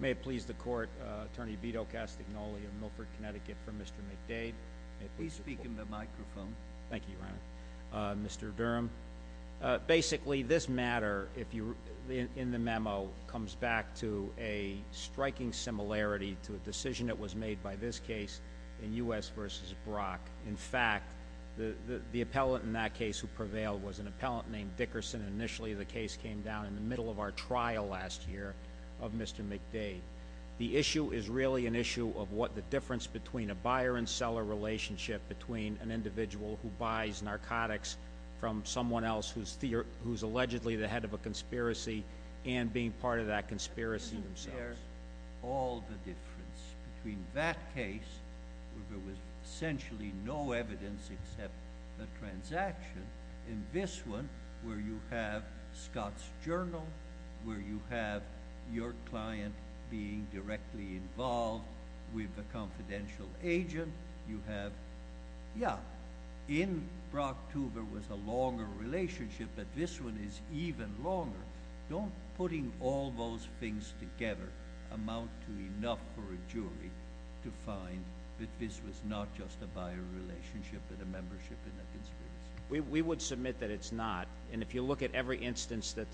May it please the Court, Attorney Vito Castagnoli of Milford, Connecticut, for Mr. McDade, if he will. Thank you, Your Honor. Mr. Durham, basically this matter in the memo comes back to a striking similarity to a decision that was made by this case in U.S. v. Brock. In fact, the appellant in that case who prevailed was an appellant named Dickerson. Initially the case came down in the middle of our trial last year of Mr. McDade. The issue is really an issue of what the difference between a buyer and seller relationship between an individual who buys narcotics from someone else who's allegedly the head of a conspiracy and being part of that conspiracy themselves. Isn't there all the difference between that case where there was essentially no evidence except the transaction and this one where you have Scott's journal, where you have your client being directly involved with a confidential agent? You have, yeah, in Brock Tuber was a longer relationship, but this one is even longer. Don't putting all those things together amount to enough for a jury to find that this was not just a buyer relationship but a membership in a conspiracy? We would submit that it's not, and if you look at every instance that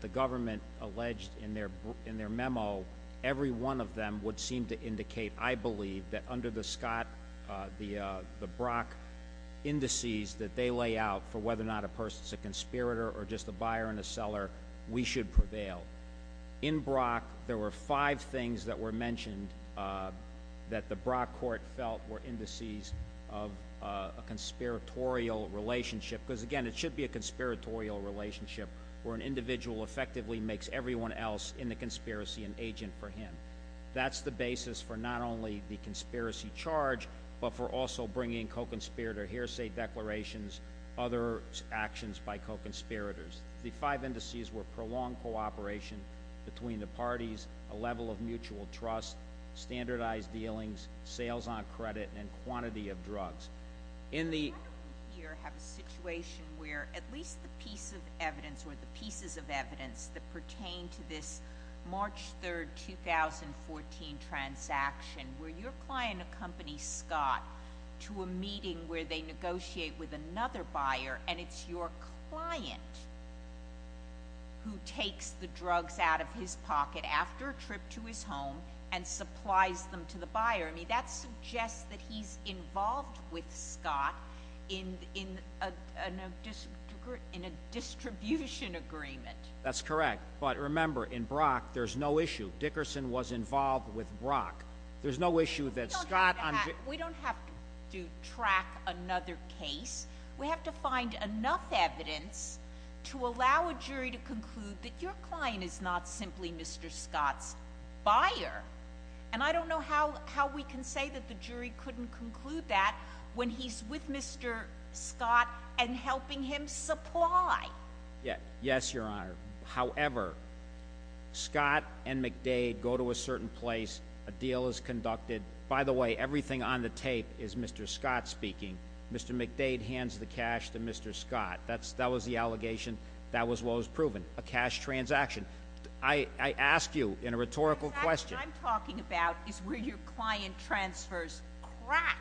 the government alleged in their memo, every one of them would seem to indicate, I believe, that under the Brock indices that they lay out for whether or not a person's a conspirator or just a buyer and a seller, we should prevail. In Brock, there were five things that were mentioned that the Brock court felt were indices of a conspiratorial relationship, because again, it should be a conspiratorial relationship, where an individual effectively makes everyone else in the conspiracy an agent for him. That's the basis for not only the conspiracy charge, but for also bringing co-conspirator hearsay declarations, other actions by co-conspirators. The five indices were prolonged cooperation between the parties, a level of mutual trust, standardized dealings, sales on credit, and quantity of drugs. In the- Why don't we here have a situation where at least the piece of evidence or the pieces of evidence that pertain to this March 3rd, 2014 transaction, where your client accompanies Scott to a meeting where they negotiate with another buyer, and it's your client who takes the drugs out of his pocket after a trip to his home and supplies them to the buyer. I mean, that suggests that he's involved with Scott in a distribution agreement. That's correct. But remember, in Brock, there's no issue. Dickerson was involved with Brock. There's no issue that Scott- We don't have to track another case. We have to find enough evidence to allow a jury to conclude that your client is not simply Mr. Scott's buyer. And I don't know how we can say that the jury couldn't conclude that when he's with Mr. Scott and helping him supply. Yes, your honor. However, Scott and McDade go to a certain place, a deal is conducted. By the way, everything on the tape is Mr. Scott speaking. Mr. McDade hands the cash to Mr. Scott. That was the allegation. That was what was proven, a cash transaction. I ask you, in a rhetorical question- What I'm talking about is where your client transfers crack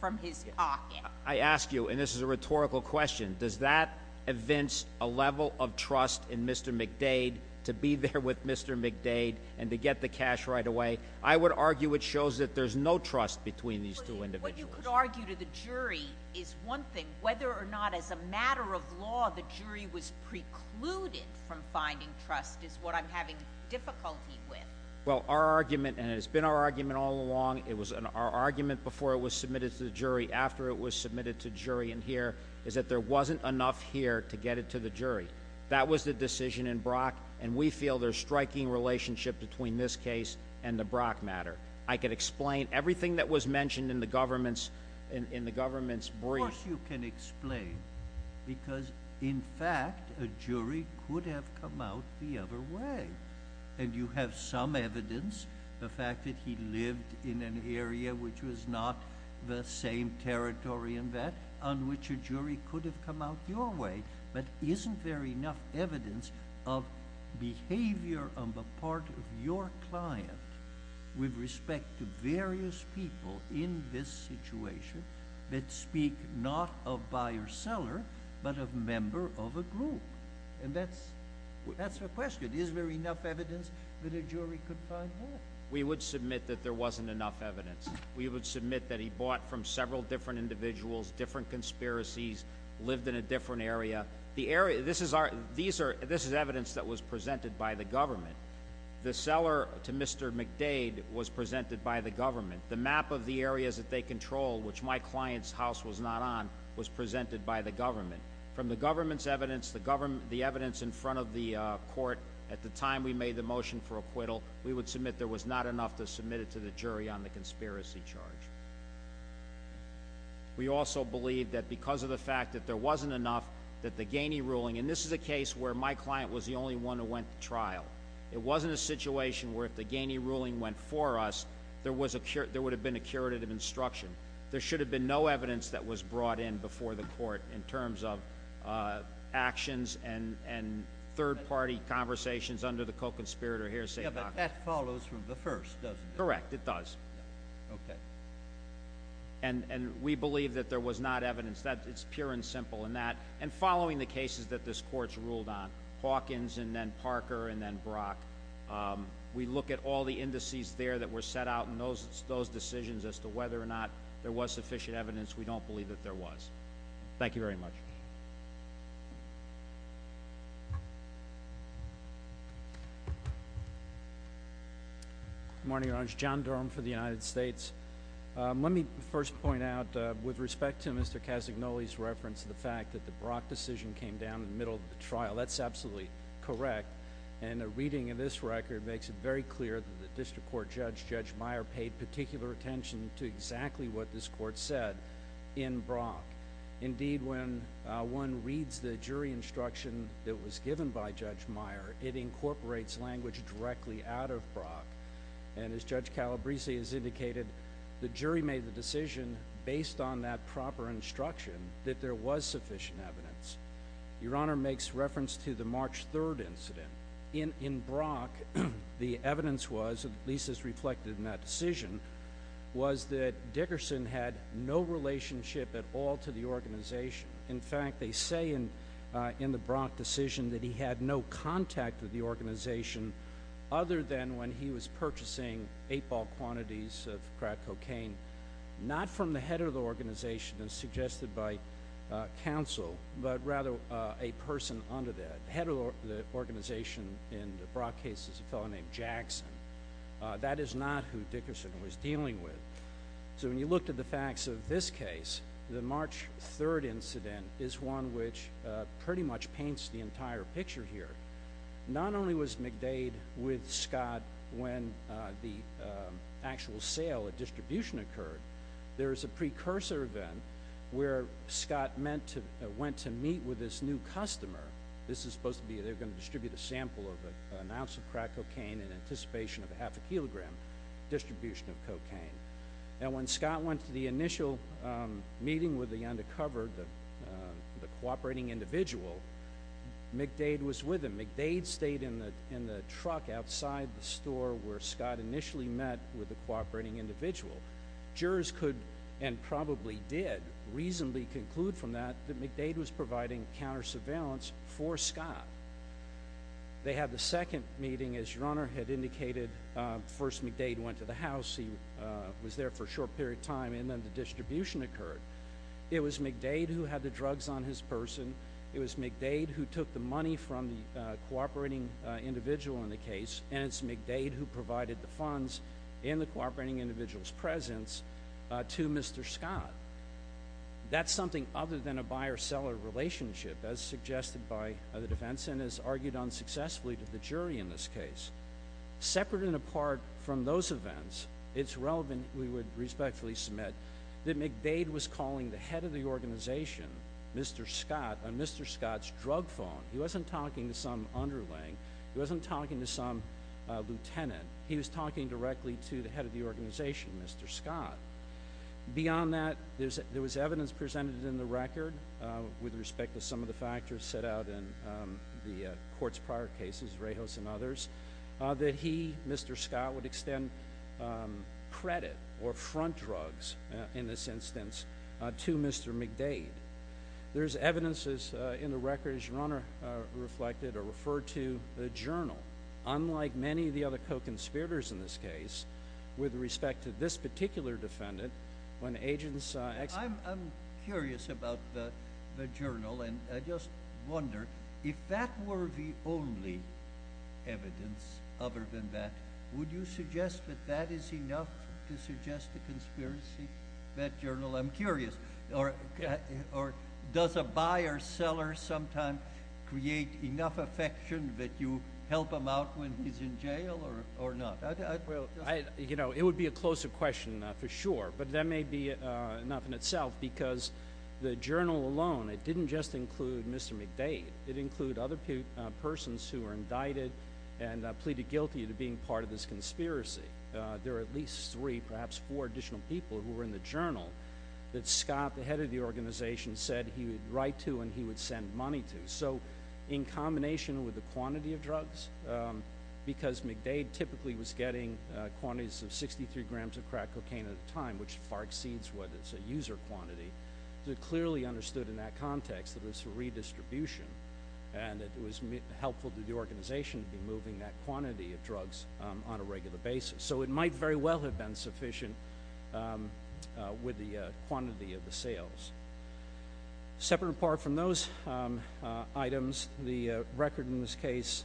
from his pocket. I ask you, and this is a rhetorical question, does that evince a level of trust in Mr. McDade to be there with Mr. McDade and to get the cash right away? I would argue it shows that there's no trust between these two individuals. What you could argue to the jury is one thing, whether or not as a matter of law, the jury was precluded from finding trust is what I'm having difficulty with. Well, our argument, and it's been our argument all along, it was our argument before it was submitted to the jury, after it was submitted to jury in here, is that there wasn't enough here to get it to the jury. That was the decision in Brock, and we feel there's striking relationship between this case and the Brock matter. I could explain everything that was mentioned in the government's brief. Of course you can explain, because in fact, a jury could have come out the other way. And you have some evidence, the fact that he lived in an area which was not the same territory and that on which a jury could have come out your way, but isn't there enough evidence of behavior on the part of your client with respect to various people in this situation that speak not of buyer-seller, but of member of a group? And that's the question, is there enough evidence that a jury could find that? We would submit that there wasn't enough evidence. We would submit that he bought from several different individuals, different conspiracies, lived in a different area. This is evidence that was presented by the government. The seller to Mr. McDade was presented by the government. The map of the areas that they control, which my client's house was not on, was presented by the government. From the government's evidence, the evidence in front of the court at the time we made the motion for acquittal, we would submit there was not enough to submit it to the jury on the conspiracy charge. We also believe that because of the fact that there wasn't enough, that the Ganey ruling, and this is a case where my client was the only one who went to trial. It wasn't a situation where if the Ganey ruling went for us, there would have been a curative instruction. There should have been no evidence that was brought in before the court in terms of actions and third party conversations under the co-conspirator hearsay. Yeah, but that follows from the first, doesn't it? Correct, it does. Okay. And we believe that there was not evidence, it's pure and simple in that. And following the cases that this court's ruled on, Hawkins and then Parker and then Brock, we look at all the indices there that were set out in those decisions as to whether or not there was sufficient evidence, we don't believe that there was. Thank you very much. Good morning, Your Honor. John Durham for the United States. Let me first point out, with respect to Mr. Casagnoli's reference to the fact that the Brock decision came down in the middle of the trial, that's absolutely correct. And a reading of this record makes it very clear that the district court judge, Judge Meyer, paid particular attention to exactly what this court said in Brock. Indeed, when one reads the jury instruction that was given by Judge Meyer, it incorporates language directly out of Brock. And as Judge Calabrese has indicated, the jury made the decision based on that proper instruction that there was sufficient evidence. Your Honor makes reference to the March 3rd incident. In Brock, the evidence was, at least as reflected in that decision, was that Dickerson had no relationship at all to the organization. In fact, they say in the Brock decision that he had no contact with the organization other than when he was purchasing eight ball quantities of crack cocaine. Not from the head of the organization as suggested by counsel, but rather a person under that. Head of the organization in the Brock case is a fellow named Jackson. That is not who Dickerson was dealing with. So when you look to the facts of this case, the March 3rd incident is one which pretty much paints the entire picture here. Not only was McDade with Scott when the actual sale and distribution occurred. There is a precursor event where Scott went to meet with this new customer. This is supposed to be, they're going to distribute a sample of an ounce of crack cocaine in anticipation of a half a kilogram distribution of cocaine. And when Scott went to the initial meeting with the undercover, the cooperating individual, McDade was with him. McDade stayed in the truck outside the store where Scott initially met with the cooperating individual. Jurors could, and probably did, reasonably conclude from that that McDade was providing counter surveillance for Scott. They had the second meeting, as your Honor had indicated. First, McDade went to the house. He was there for a short period of time, and then the distribution occurred. It was McDade who had the drugs on his person. It was McDade who took the money from the cooperating individual in the case. And it's McDade who provided the funds in the cooperating individual's presence to Mr. Scott. That's something other than a buyer-seller relationship, as suggested by the defense and as argued unsuccessfully to the jury in this case. Separate and apart from those events, it's relevant, we would respectfully submit, that McDade was calling the head of the organization, Mr. Scott, on Mr. Scott's drug phone. He wasn't talking to some underling. He wasn't talking to some lieutenant. He was talking directly to the head of the organization, Mr. Scott. Beyond that, there was evidence presented in the record with respect to some of the factors set out in the court's prior cases, Rejos and others, that he, Mr. Scott, would extend credit or front drugs, in this instance, to Mr. McDade. There's evidences in the record, as your Honor reflected, or referred to, the journal. Unlike many of the other co-conspirators in this case, with respect to this particular defendant, when agents- I'm curious about the journal, and I just wonder, if that were the only evidence other than that, would you suggest that that is enough to suggest a conspiracy? That journal, I'm curious, or does a buyer-seller sometimes create enough affection that you help him out when he's in jail, or not? Well, it would be a closer question, for sure, but that may be enough in itself, because the journal alone, it didn't just include Mr. McDade, it included other persons who were indicted and pleaded guilty to being part of this conspiracy. There were at least three, perhaps four additional people who were in the journal that Scott, the head of the organization, said he would write to and he would send money to. So, in combination with the quantity of drugs, because McDade typically was getting quantities of 63 grams of crack cocaine at a time, which far exceeds what is a user quantity, it clearly understood in that context that it was a redistribution and that it was helpful to the organization to be moving that quantity of drugs on a regular basis. So, it might very well have been sufficient with the quantity of the sales. Separate and apart from those items, the record in this case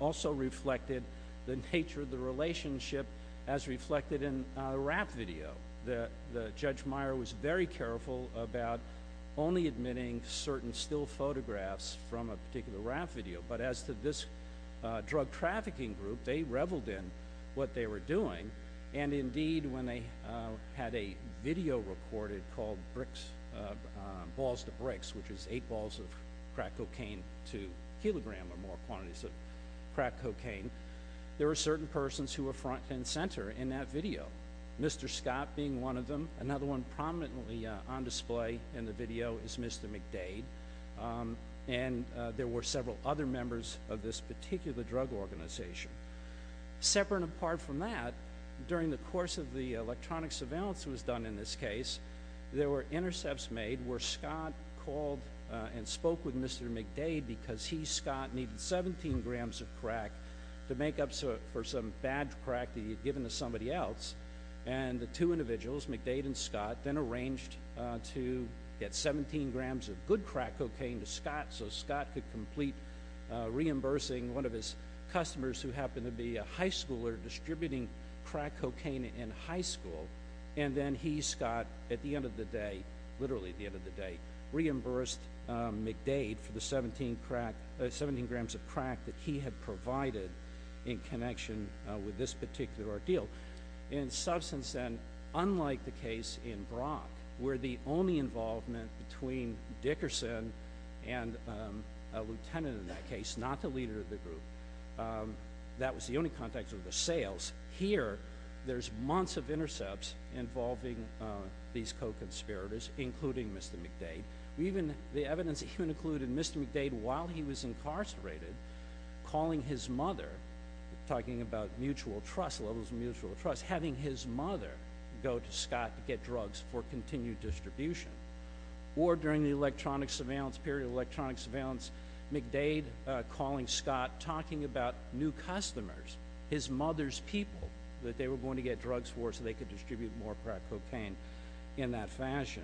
also reflected the nature of the relationship as reflected in a rap video. The Judge Meyer was very careful about only admitting certain still photographs from a particular rap video. But as to this drug trafficking group, they reveled in what they were doing. And indeed, when they had a video recorded called Balls to Bricks, which is eight balls of crack cocaine to kilogram or more quantities of crack cocaine, there were certain persons who were front and center in that video, Mr. Scott being one of them. Another one prominently on display in the video is Mr. McDade. And there were several other members of this particular drug organization. Separate and apart from that, during the course of the electronic surveillance that was done in this case, there were intercepts made where Scott called and spoke with Mr. McDade because he, Scott, needed 17 grams of crack to make up for some bad crack that he had given to somebody else. And the two individuals, McDade and Scott, then arranged to get 17 grams of good crack cocaine to Scott so Scott could complete reimbursing one of his customers who happened to be a high schooler distributing crack cocaine in high school. And then he, Scott, at the end of the day, literally at the end of the day, reimbursed McDade for the 17 grams of crack that he had provided in connection with this particular ordeal. In substance then, unlike the case in Brock, where the only involvement between Dickerson and a lieutenant in that case, not the leader of the group, that was the only context of the sales, here there's months of intercepts involving these co-conspirators, including Mr. McDade, the evidence even included Mr. McDade, while he was incarcerated, calling his mother, talking about mutual trust, levels of mutual trust, having his mother go to Scott to get drugs for continued distribution. Or during the period of electronic surveillance, McDade calling Scott, talking about new customers, his mother's people, that they were going to get drugs for so they could distribute more crack cocaine in that fashion.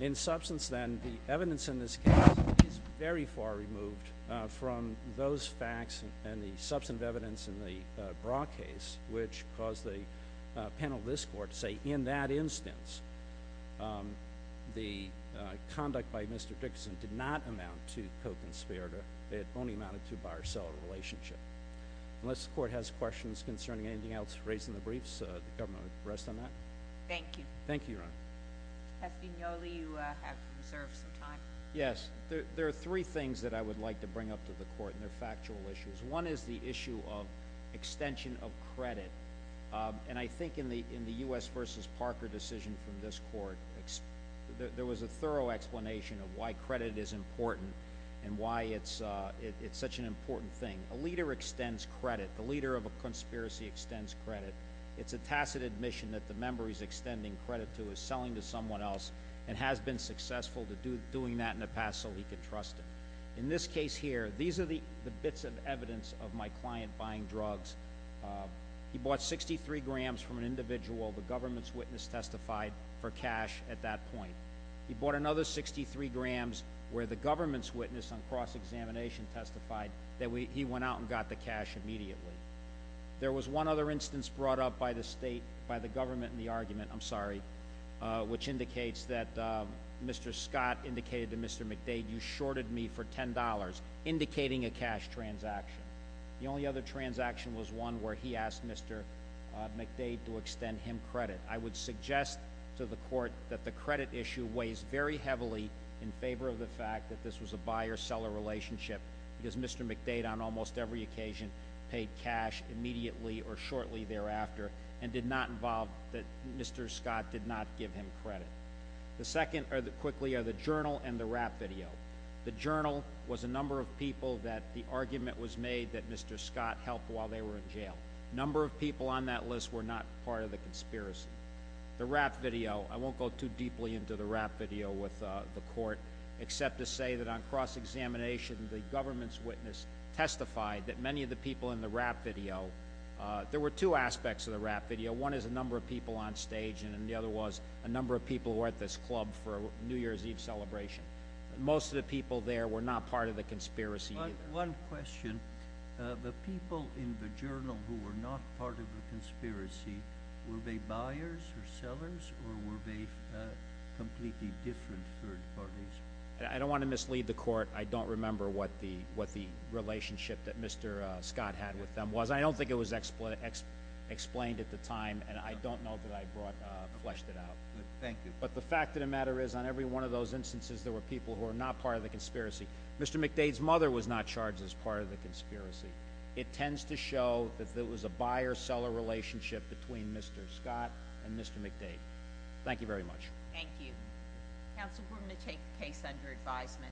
In substance then, the evidence in this case is very far removed from those facts and the substantive evidence in the Brock case, which caused the panel of this court to say, in that instance, the conduct by Mr. Dickerson did not amount to co-conspirator. It only amounted to a buyer-seller relationship. Unless the court has questions concerning anything else raised in the briefs, the government will rest on that. Thank you. Thank you, Your Honor. Mr. Vignoli, you have reserved some time. Yes, there are three things that I would like to bring up to the court, and they're factual issues. One is the issue of extension of credit. And I think in the US versus Parker decision from this court, there was a thorough explanation of why credit is important and why it's such an important thing. A leader extends credit, the leader of a conspiracy extends credit. It's a tacit admission that the member he's extending credit to is selling to someone else and has been successful to doing that in the past so he could trust it. In this case here, these are the bits of evidence of my client buying drugs. He bought 63 grams from an individual the government's witness testified for cash at that point. He bought another 63 grams where the government's witness on cross-examination testified that he went out and got the cash immediately. There was one other instance brought up by the state, by the government in the argument, I'm sorry, which indicates that Mr. Scott indicated to Mr. McDade, you shorted me for $10, indicating a cash transaction. The only other transaction was one where he asked Mr. McDade to extend him credit. I would suggest to the court that the credit issue weighs very heavily in favor of the fact that this was a buyer-seller relationship. Because Mr. McDade on almost every occasion paid cash immediately or shortly thereafter and did not involve, that Mr. Scott did not give him credit. The second, quickly, are the journal and the rap video. The journal was a number of people that the argument was made that Mr. Scott helped while they were in jail. Number of people on that list were not part of the conspiracy. The rap video, I won't go too deeply into the rap video with the court, except to say that on cross-examination, the government's witness testified that many of the people in the rap video. There were two aspects of the rap video. One is a number of people on stage, and the other was a number of people who were at this club for New Year's Eve celebration. Most of the people there were not part of the conspiracy either. One question, the people in the journal who were not part of the conspiracy, were they buyers or sellers, or were they completely different third parties? I don't want to mislead the court. I don't remember what the relationship that Mr. Scott had with them was. I don't think it was explained at the time, and I don't know that I fleshed it out. Thank you. But the fact of the matter is, on every one of those instances, there were people who were not part of the conspiracy. Mr. McDade's mother was not charged as part of the conspiracy. It tends to show that there was a buyer-seller relationship between Mr. Scott and Mr. McDade. Thank you very much. Thank you. Council approved to take the case under advisement.